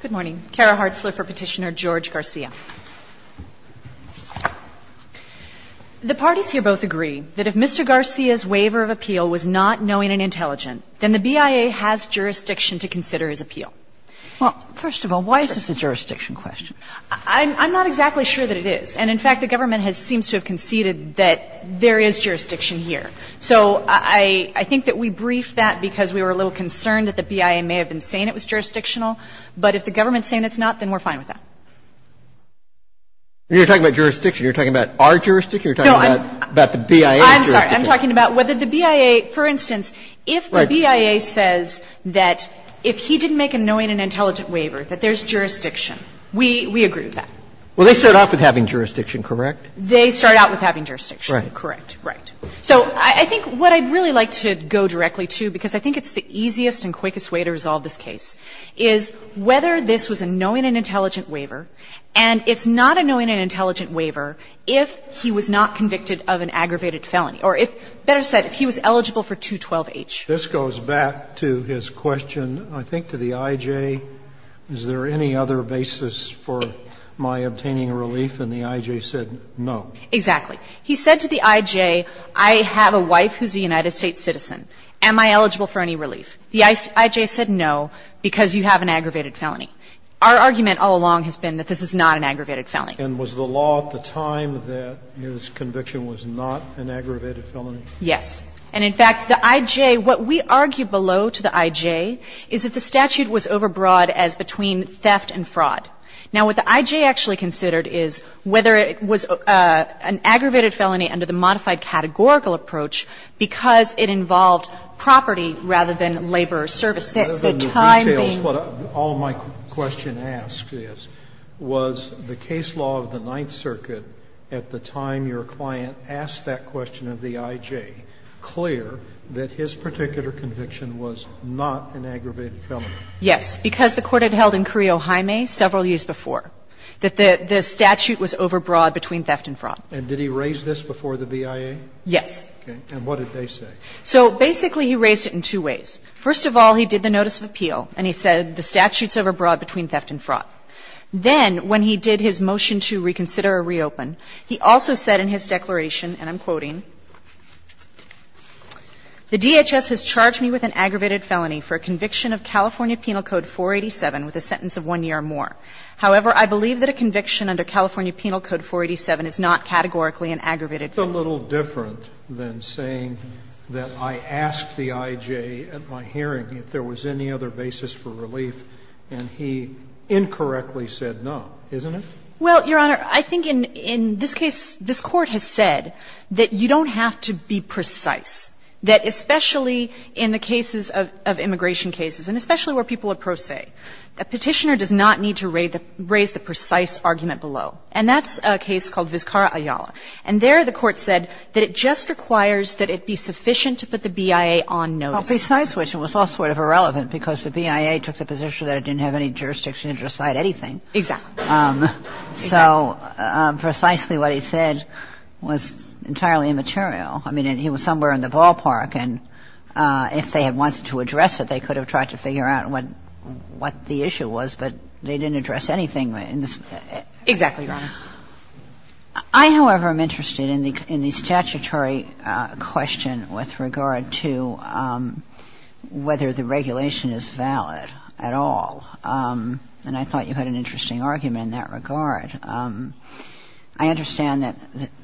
Good morning. Kara Hartzler for Petitioner George Garcia. The parties here both agree that if Mr. Garcia's waiver of appeal was not knowing and intelligent, then the BIA has jurisdiction to consider his appeal. Well, first of all, why is this a jurisdiction question? I'm not exactly sure that it is. And, in fact, the government seems to have conceded that there is jurisdiction here. So I think that we briefed that because we were a little concerned that the BIA may have been saying it was jurisdictional. But if the government's saying it's not, then we're fine with that. You're talking about jurisdiction. You're talking about our jurisdiction. You're talking about the BIA's jurisdiction. I'm sorry. I'm talking about whether the BIA, for instance, if the BIA says that if he didn't make a knowing and intelligent waiver, that there's jurisdiction. We agree with that. Well, they start off with having jurisdiction, correct? They start out with having jurisdiction. Right. Correct. Right. So I think what I'd really like to go directly to, because I think it's the easiest and quickest way to resolve this case, is whether this was a knowing and intelligent waiver, and it's not a knowing and intelligent waiver if he was not convicted of an aggravated felony, or if, better said, if he was eligible for 212-H. This goes back to his question, I think, to the I.J. Is there any other basis for my obtaining relief? And the I.J. said no. Exactly. He said to the I.J., I have a wife who's a United States citizen. Am I eligible for any relief? The I.J. said no because you have an aggravated felony. Our argument all along has been that this is not an aggravated felony. And was the law at the time that his conviction was not an aggravated felony? Yes. And, in fact, the I.J. What we argue below to the I.J. is that the statute was overbroad as between theft and fraud. Now, what the I.J. actually considered is whether it was an aggravated felony under the modified categorical approach because it involved property rather than labor or service. The time being. All my question asks is, was the case law of the Ninth Circuit at the time your client asked that question of the I.J. clear that his particular conviction was not an aggravated felony? Yes. Because the Court had held in Corio Jaime several years before that the statute was overbroad between theft and fraud. And did he raise this before the BIA? Yes. Okay. And what did they say? So, basically, he raised it in two ways. First of all, he did the notice of appeal and he said the statute's overbroad between theft and fraud. Then, when he did his motion to reconsider or reopen, he also said in his declaration and I'm quoting, It's a little different than saying that I asked the I.J. at my hearing if there was any other basis for relief and he incorrectly said no, isn't it? Well, Your Honor, I think in this case, this Court has said that you don't have to be precise, that especially in the cases of immigration cases and especially where people are pro se, a Petitioner does not need to raise the precise argument below, and that's a case called Vizcara-Ayala. And there the Court said that it just requires that it be sufficient to put the BIA on notice. Well, besides which, it was also sort of irrelevant because the BIA took the position that it didn't have any jurisdiction to decide anything. Exactly. So precisely what he said was entirely immaterial. I mean, he was somewhere in the ballpark, and if they had wanted to address it, they could have tried to figure out what the issue was, but they didn't address anything in this case. Exactly, Your Honor. I, however, am interested in the statutory question with regard to whether the regulation is valid at all. And I thought you had an interesting argument in that regard. I understand that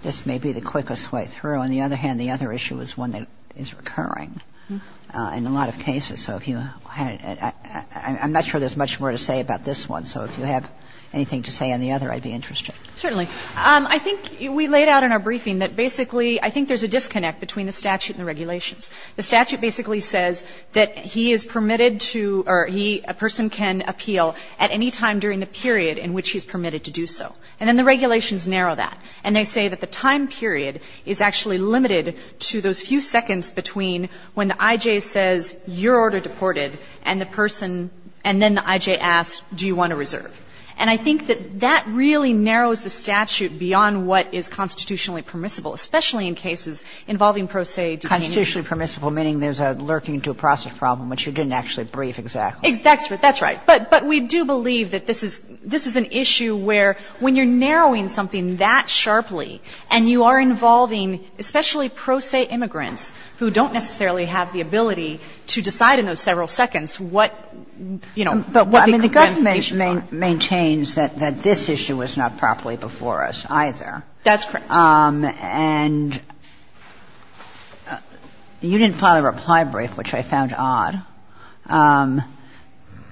this may be the quickest way through. On the other hand, the other issue is one that is recurring in a lot of cases. So if you had a – I'm not sure there's much more to say about this one, so if you have anything to say on the other, I'd be interested. Certainly. I think we laid out in our briefing that basically I think there's a disconnect between the statute and the regulations. The statute basically says that he is permitted to, or he, a person can appeal at any time during the period in which he's permitted to do so. And then the regulations narrow that. And they say that the time period is actually limited to those few seconds between when the I.J. says, your order deported, and the person, and then the I.J. asks, do you want to reserve? And I think that that really narrows the statute beyond what is constitutionally permissible, especially in cases involving pro se detainees. It's not constitutionally permissible. It's not constitutionally permissible, meaning there's a lurking due process problem, which you didn't actually brief exactly. That's right. But we do believe that this is an issue where when you're narrowing something that sharply and you are involving especially pro se immigrants who don't necessarily have the ability to decide in those several seconds what, you know, what the conditions are. And it maintains that this issue was not properly before us either. That's correct. And you didn't file a reply brief, which I found odd,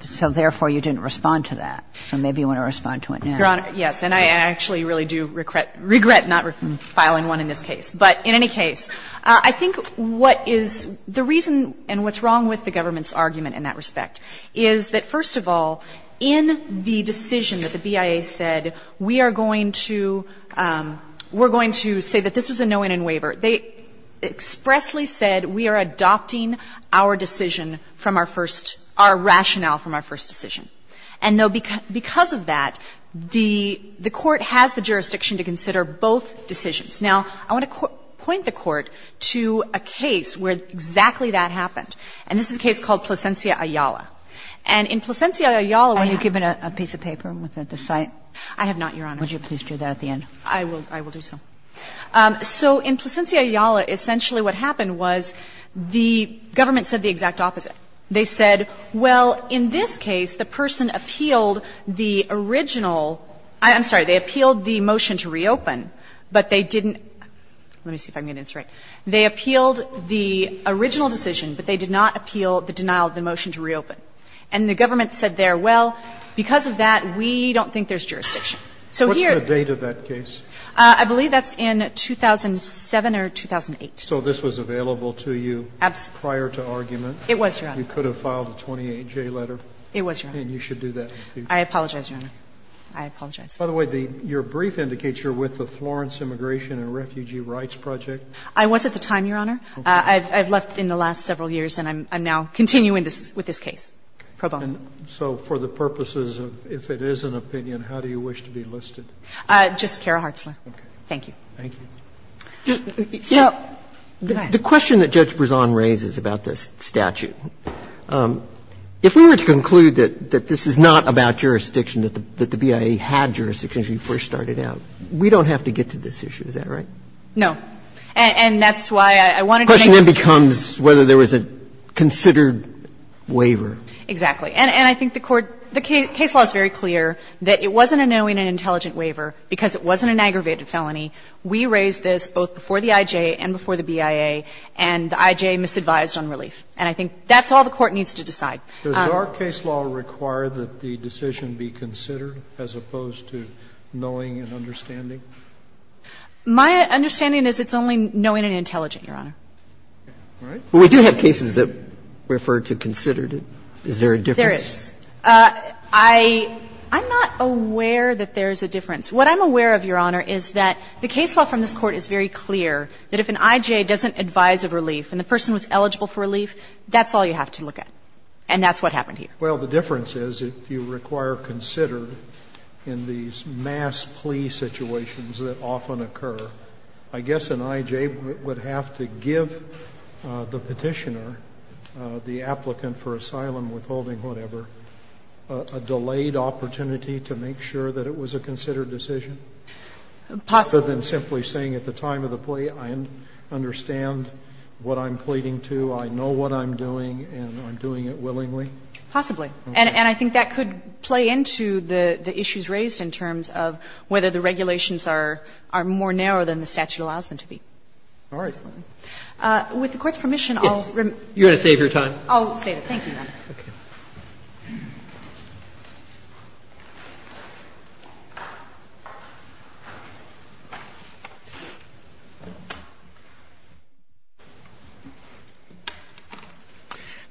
so therefore, you didn't respond to that, so maybe you want to respond to it now. Your Honor, yes, and I actually really do regret not filing one in this case. But in any case, I think what is the reason and what's wrong with the government's argument in that respect is that, first of all, in the decision that the BIA said, we are going to say that this was a no-in in waiver, they expressly said we are adopting our decision from our first, our rationale from our first decision. And, no, because of that, the Court has the jurisdiction to consider both decisions. Now, I want to point the Court to a case where exactly that happened, and this is a case in Plasencia, Ayala. And in Plasencia, Ayala, when you give it a piece of paper with the site. I have not, Your Honor. Would you please do that at the end? I will do so. So in Plasencia, Ayala, essentially what happened was the government said the exact opposite. They said, well, in this case, the person appealed the original – I'm sorry, they appealed the motion to reopen, but they didn't – let me see if I'm getting this right. They appealed the original decision, but they did not appeal the denial of the motion to reopen. And the government said there, well, because of that, we don't think there's jurisdiction. So here – What's the date of that case? I believe that's in 2007 or 2008. So this was available to you prior to argument? It was, Your Honor. You could have filed a 28-J letter? It was, Your Honor. And you should do that. I apologize, Your Honor. I apologize. By the way, your brief indicates you're with the Florence Immigration and Refugee Rights Project. I was at the time, Your Honor. I've left in the last several years, and I'm now continuing with this case pro bono. So for the purposes of if it is an opinion, how do you wish to be listed? Just Kara Hartzler. Thank you. Thank you. So the question that Judge Brezon raises about this statute, if we were to conclude that this is not about jurisdiction, that the BIA had jurisdiction, as you first started out, we don't have to get to this issue, is that right? No. And that's why I wanted to make sure. The question then becomes whether there was a considered waiver. Exactly. And I think the Court the case law is very clear that it wasn't a knowing and intelligent waiver because it wasn't an aggravated felony. We raised this both before the IJ and before the BIA, and the IJ misadvised on relief. And I think that's all the Court needs to decide. Does our case law require that the decision be considered as opposed to knowing and understanding? My understanding is it's only knowing and intelligent, Your Honor. All right. But we do have cases that refer to considered. Is there a difference? There is. I'm not aware that there's a difference. What I'm aware of, Your Honor, is that the case law from this Court is very clear that if an IJ doesn't advise of relief and the person was eligible for relief, that's all you have to look at. And that's what happened here. Well, the difference is if you require considered in these mass plea situations that often occur, I guess an IJ would have to give the Petitioner, the applicant for asylum withholding whatever, a delayed opportunity to make sure that it was a considered decision? Possibly. Other than simply saying at the time of the plea, I understand what I'm pleading to, I know what I'm doing, and I'm doing it willingly? Possibly. And I think that could play into the issues raised in terms of whether the regulations are more narrow than the statute allows them to be. All right. With the Court's permission, I'll remit. You're going to save your time. I'll save it. Thank you, Your Honor. Okay.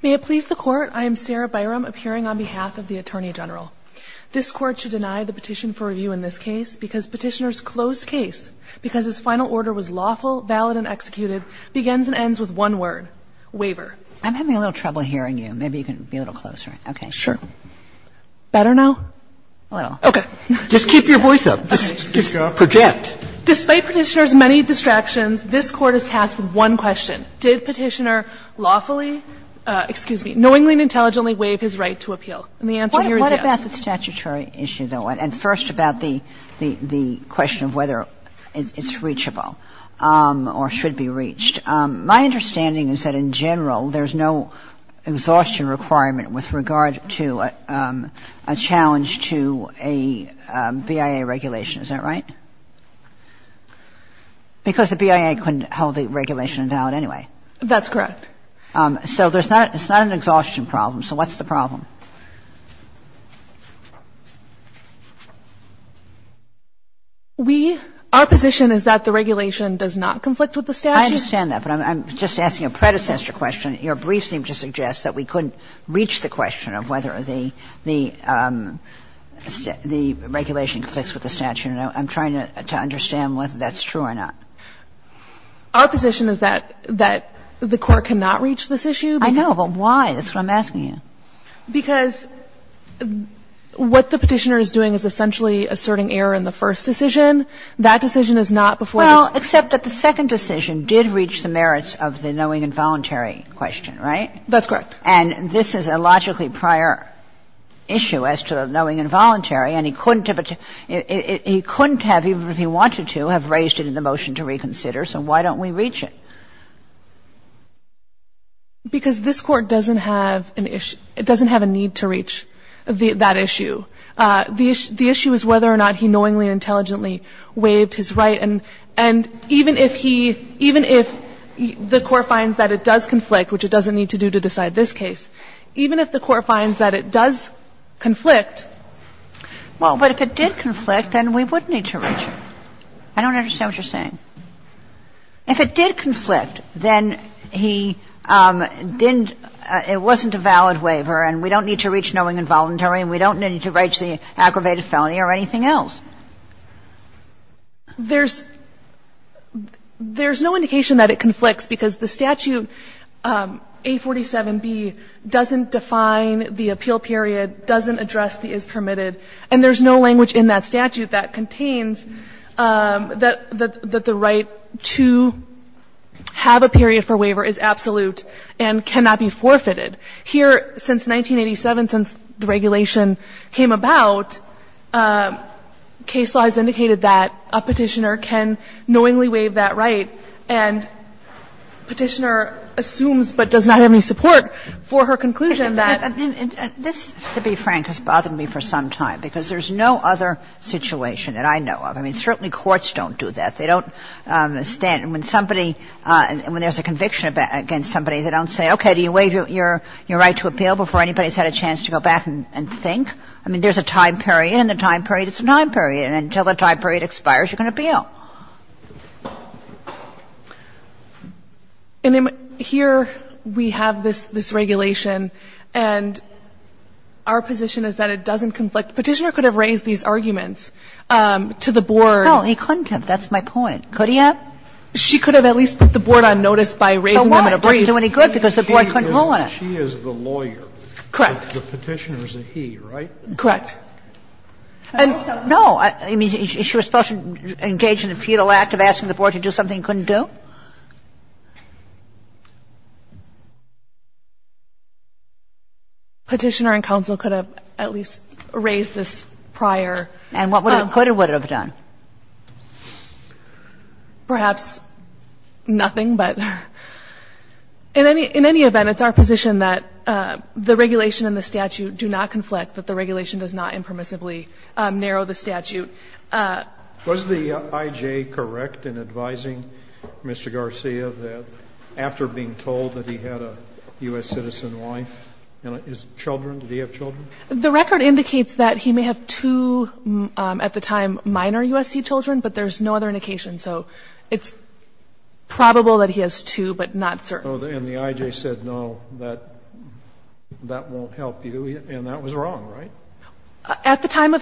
May it please the Court, I am Sarah Byram, appearing on behalf of the Attorney General. This Court should deny the petition for review in this case because Petitioner's closed case, because his final order was lawful, valid, and executed, begins and ends with one word, waiver. I'm having a little trouble hearing you. Maybe you can be a little closer. Okay. Sure. Better now? A little. Okay. Just keep your voice up. Just project. Despite Petitioner's many distractions, this Court is tasked with one question. Did Petitioner lawfully – excuse me, knowingly and intelligently waive his right to appeal? And the answer here is yes. What about the statutory issue, though? And first about the question of whether it's reachable or should be reached. My understanding is that in general there's no exhaustion requirement with regard to a challenge to a BIA regulation. Is that right? Because the BIA couldn't hold the regulation invalid anyway. That's correct. So there's not – it's not an exhaustion problem. So what's the problem? We – our position is that the regulation does not conflict with the statute. I understand that, but I'm just asking a predecessor question. Your brief seemed to suggest that we couldn't reach the question of whether the – the regulation conflicts with the statute, and I'm trying to understand whether that's true or not. Our position is that the Court cannot reach this issue. I know, but why? That's what I'm asking you. Because what the Petitioner is doing is essentially asserting error in the first decision. That decision is not before the – Well, except that the second decision did reach the merits of the knowing and voluntary question, right? That's correct. And this is a logically prior issue as to the knowing and voluntary, and he couldn't have – he couldn't have, even if he wanted to, have raised it in the motion to reconsider, so why don't we reach it? Because this Court doesn't have an issue – it doesn't have a need to reach that issue. The issue is whether or not he knowingly and intelligently waived his right. And even if he – even if the Court finds that it does conflict, which it doesn't need to do to decide this case, even if the Court finds that it does conflict – Well, but if it did conflict, then we would need to reach it. I don't understand what you're saying. If it did conflict, then he didn't – it wasn't a valid waiver, and we don't need to reach knowing and voluntary, and we don't need to reach the aggravated felony or anything else. There's – there's no indication that it conflicts, because the statute, A47B, doesn't define the appeal period, doesn't address the is permitted, and there's no language in that statute that contains that the right to have a period for waiver is absolute and cannot be forfeited. Here, since 1987, since the regulation came about, case law has indicated that a Petitioner can knowingly waive that right, and Petitioner assumes but does not have any support for her conclusion that – And this, to be frank, has bothered me for some time, because there's no other situation that I know of. I mean, certainly courts don't do that. They don't stand – when somebody – when there's a conviction against somebody, they don't say, okay, do you waive your – your right to appeal before anybody's had a chance to go back and – and think. I mean, there's a time period, and the time period is a time period, and until the time period expires, you can appeal. And here we have this – this regulation, and our position is that it doesn't conflict. Petitioner could have raised these arguments to the board. No, he couldn't have. That's my point. Could he have? She could have at least put the board on notice by raising them in a brief. That's my point. I'm not agreeing to any good because the board couldn't rule on it. She is the lawyer. Correct. The Petitioner's a he, right? Correct. And no – she was supposed to engage in a feudal act of asking the board to do something it couldn't do? Petitioner and counsel could have at least raised this prior. And what it could or would have done? Perhaps nothing, but in any event, it's our position that the regulation and the statute do not conflict, that the regulation does not impermissibly narrow the statute. Was the I.J. correct in advising Mr. Garcia that after being told that he had a U.S. citizen wife and children, did he have children? The record indicates that he may have two, at the time, minor U.S.C. children, but there's no other indication. So it's probable that he has two, but not certain. And the I.J. said, no, that won't help you, and that was wrong, right? At the time of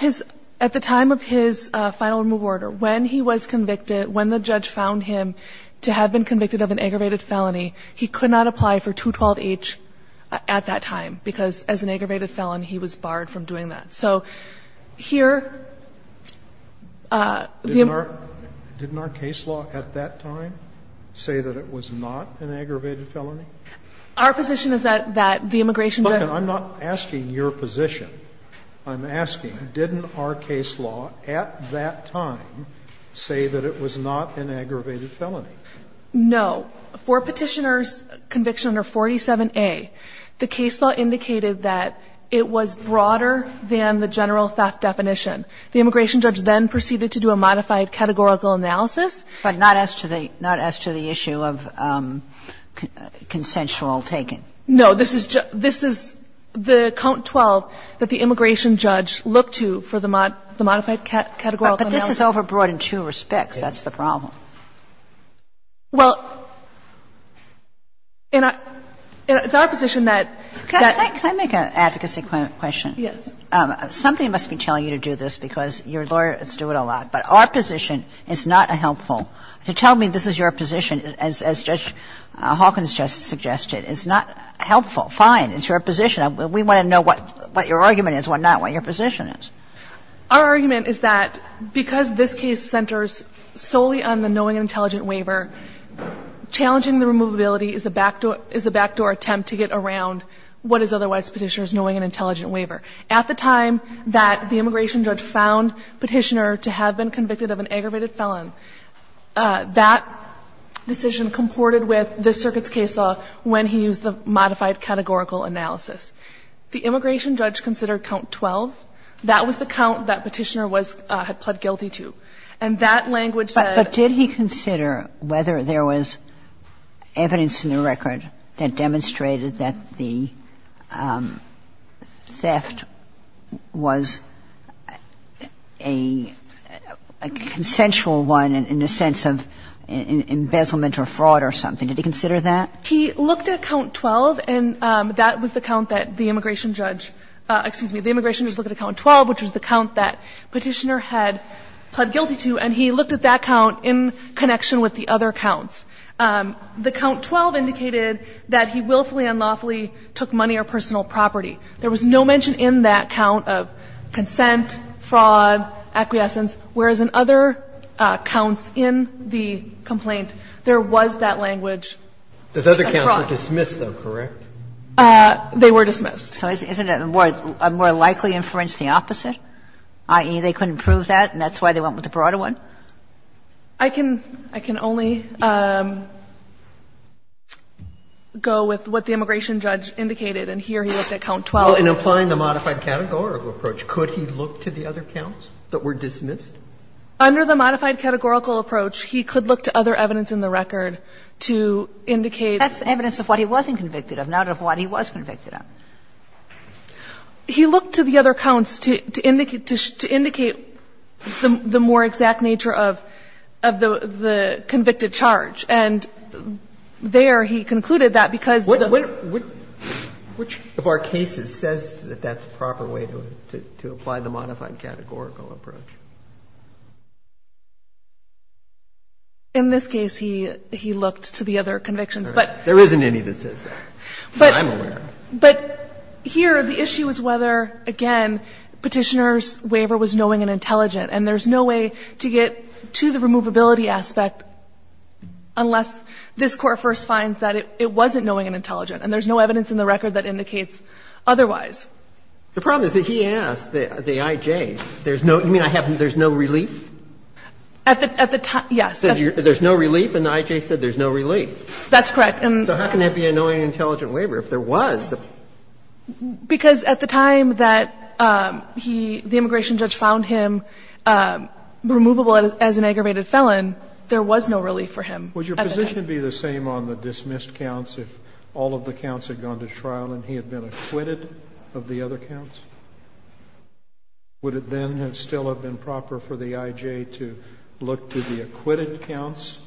his final removal order, when he was convicted, when the judge found him to have been convicted of an aggravated felony, he could not apply for 212H at that time, because as an aggravated felon, he was barred from doing that. So here, the immigration law at that time say that it was not an aggravated felony? Our position is that the immigration judge Look, I'm not asking your position. I'm asking, didn't our case law at that time say that it was not an aggravated felony? No. For Petitioner's Conviction under 47A, the case law indicated that it was broader than the general theft definition. The immigration judge then proceeded to do a modified categorical analysis. But not as to the issue of consensual taking? No. This is the count 12 that the immigration judge looked to for the modified categorical analysis. But this is overbroad in two respects. That's the problem. Well, in our position that Can I make an advocacy question? Yes. Somebody must be telling you to do this because your lawyers do it a lot. But our position is not helpful. To tell me this is your position, as Judge Hawkins just suggested, is not helpful. Fine. It's your position. We want to know what your argument is, what not, what your position is. Our argument is that because this case centers solely on the knowing and intelligent waiver, challenging the removability is a backdoor attempt to get around what is otherwise Petitioner's knowing and intelligent waiver. At the time that the immigration judge found Petitioner to have been convicted of an aggravated felon, that decision comported with this circuit's case law when he used the modified categorical analysis. The immigration judge considered count 12. That was the count that Petitioner was – had pled guilty to. And that language said But did he consider whether there was evidence in the record that demonstrated that the theft was a consensual one in a sense of embezzlement or fraud or something? Did he consider that? He looked at count 12, and that was the count that the immigration judge – excuse me, the immigration judge looked at count 12, which was the count that Petitioner had pled guilty to, and he looked at that count in connection with the other counts. The count 12 indicated that he willfully and unlawfully took money or personal property. There was no mention in that count of consent, fraud, acquiescence, whereas in other counts in the complaint, there was that language of fraud. Roberts. They were dismissed. Is that correct? They were dismissed. So isn't it more likely to inference the opposite, i.e., they couldn't prove that and that's why they went with the broader one? I can only go with what the immigration judge indicated, and here he looked at count 12. In applying the modified categorical approach, could he look to the other counts that were dismissed? Under the modified categorical approach, he could look to other evidence in the record to indicate that he was a consensual thief. But he looked to the other counts to indicate that there was nothing convicted of, not of what he was convicted of. He looked to the other counts to indicate the more exact nature of the convicted charge, and there he concluded that because the other counts were. Which of our cases says that that's the proper way to apply the modified categorical approach? In this case, he looked to the other convictions, but. There isn't any that says that, but I'm aware of that. But here the issue is whether, again, Petitioner's waiver was knowing and intelligent, and there's no way to get to the removability aspect unless this Court first finds that it wasn't knowing and intelligent, and there's no evidence in the record that indicates otherwise. The problem is that he asked the I.J., there's no, you mean there's no relief? At the time, yes. There's no relief, and the I.J. said there's no relief. That's correct. So how can that be a knowing and intelligent waiver if there was? Because at the time that he, the immigration judge, found him removable as an aggravated felon, there was no relief for him at the time. Would your position be the same on the dismissed counts if all of the counts had been taken on to trial and he had been acquitted of the other counts? Would it then still have been proper for the I.J. to look to the acquitted counts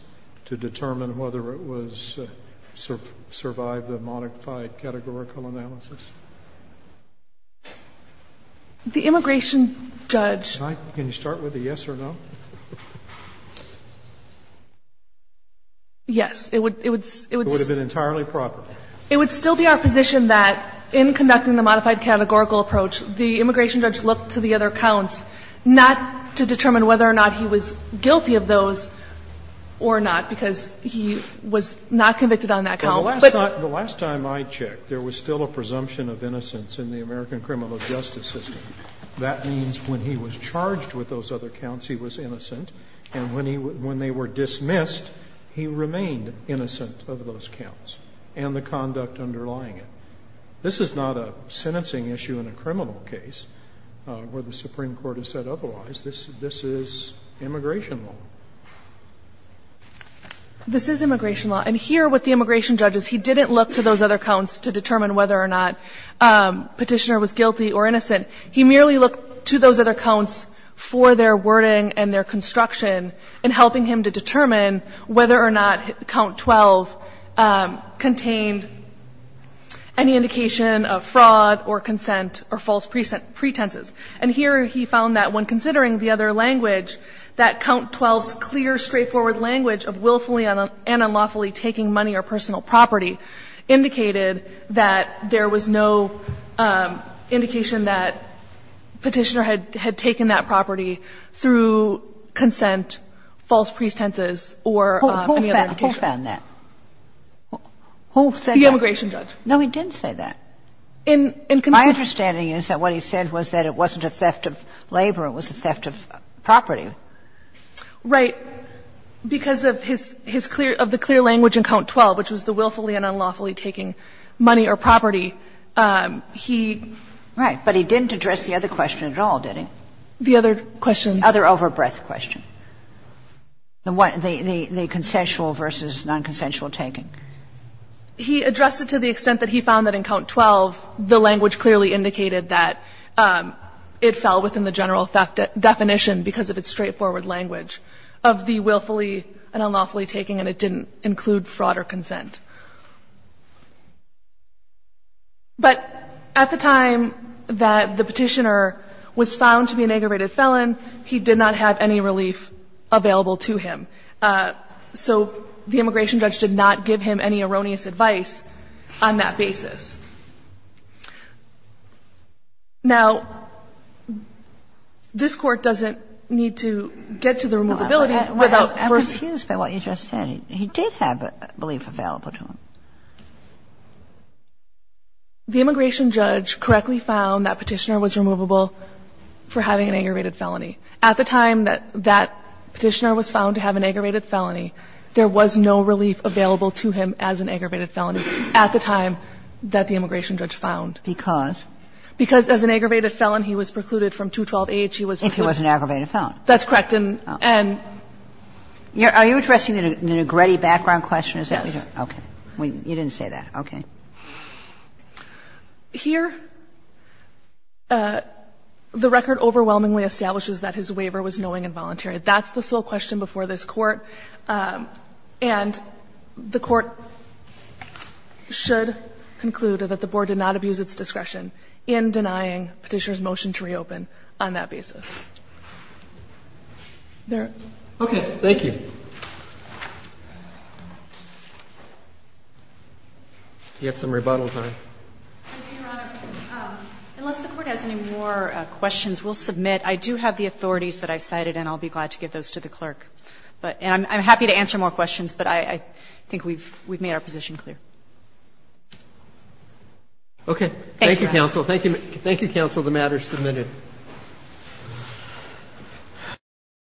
to determine whether it was, survived the modified categorical analysis? The immigration judge. Can you start with a yes or no? Yes. It would, it would. It would have been entirely proper. It would still be our position that in conducting the modified categorical approach, the immigration judge looked to the other counts not to determine whether or not he was guilty of those or not, because he was not convicted on that count, but. But the last time I checked, there was still a presumption of innocence in the American criminal justice system. That means when he was charged with those other counts, he was innocent, and when he, when they were dismissed, he remained innocent of those counts. And the conduct underlying it. This is not a sentencing issue in a criminal case where the Supreme Court has said otherwise. This, this is immigration law. This is immigration law. And here with the immigration judges, he didn't look to those other counts to determine whether or not Petitioner was guilty or innocent. He merely looked to those other counts for their wording and their construction and helping him to determine whether or not Count 12 contained any indication of fraud or consent or false pretenses. And here he found that when considering the other language, that Count 12's clear, straightforward language of willfully and unlawfully taking money or personal property indicated that there was no indication that Petitioner had taken that And he didn't look to those other counts to determine whether or not Petitioner was guilty or innocent of fraud or consent, false pretenses, or any other indication. Kagan. Who found that? Who said that? The immigration judge. No, he didn't say that. In, in connection to that. My understanding is that what he said was that it wasn't a theft of labor, it was a theft of property. Right. Because of his, his clear, of the clear language in Count 12, which was the willfully and unlawfully taking money or property, he Right. But he didn't address the other question at all, did he? The other question. Other overbreadth question. The one, the, the, the consensual versus nonconsensual taking. He addressed it to the extent that he found that in Count 12, the language clearly indicated that it fell within the general theft definition because of its straightforward language of the willfully and unlawfully taking, and it didn't include fraud or consent. But at the time that the Petitioner was found to be an aggravated felon, he did not have any relief available to him. So the immigration judge did not give him any erroneous advice on that basis. Now, this Court doesn't need to get to the removability without first. And I'm confused by what you just said. He did have relief available to him. The immigration judge correctly found that Petitioner was removable for having an aggravated felony. At the time that that Petitioner was found to have an aggravated felony, there was no relief available to him as an aggravated felony at the time that the immigration judge found. Because? Because as an aggravated felon, he was precluded from 212-H. He was. If he was an aggravated felon. That's correct. And, and. Are you addressing the Negretti background question? Yes. Okay. You didn't say that. Okay. Here, the record overwhelmingly establishes that his waiver was knowing and voluntary. That's the sole question before this Court. And the Court should conclude that the Board did not abuse its discretion in denying Petitioner's motion to reopen on that basis. Okay. Thank you. Do you have some rebuttal time? Your Honor, unless the Court has any more questions, we'll submit. I do have the authorities that I cited, and I'll be glad to give those to the clerk. And I'm happy to answer more questions, but I think we've made our position clear. Okay. Thank you, counsel. Thank you, counsel. The matter is submitted. Thank you.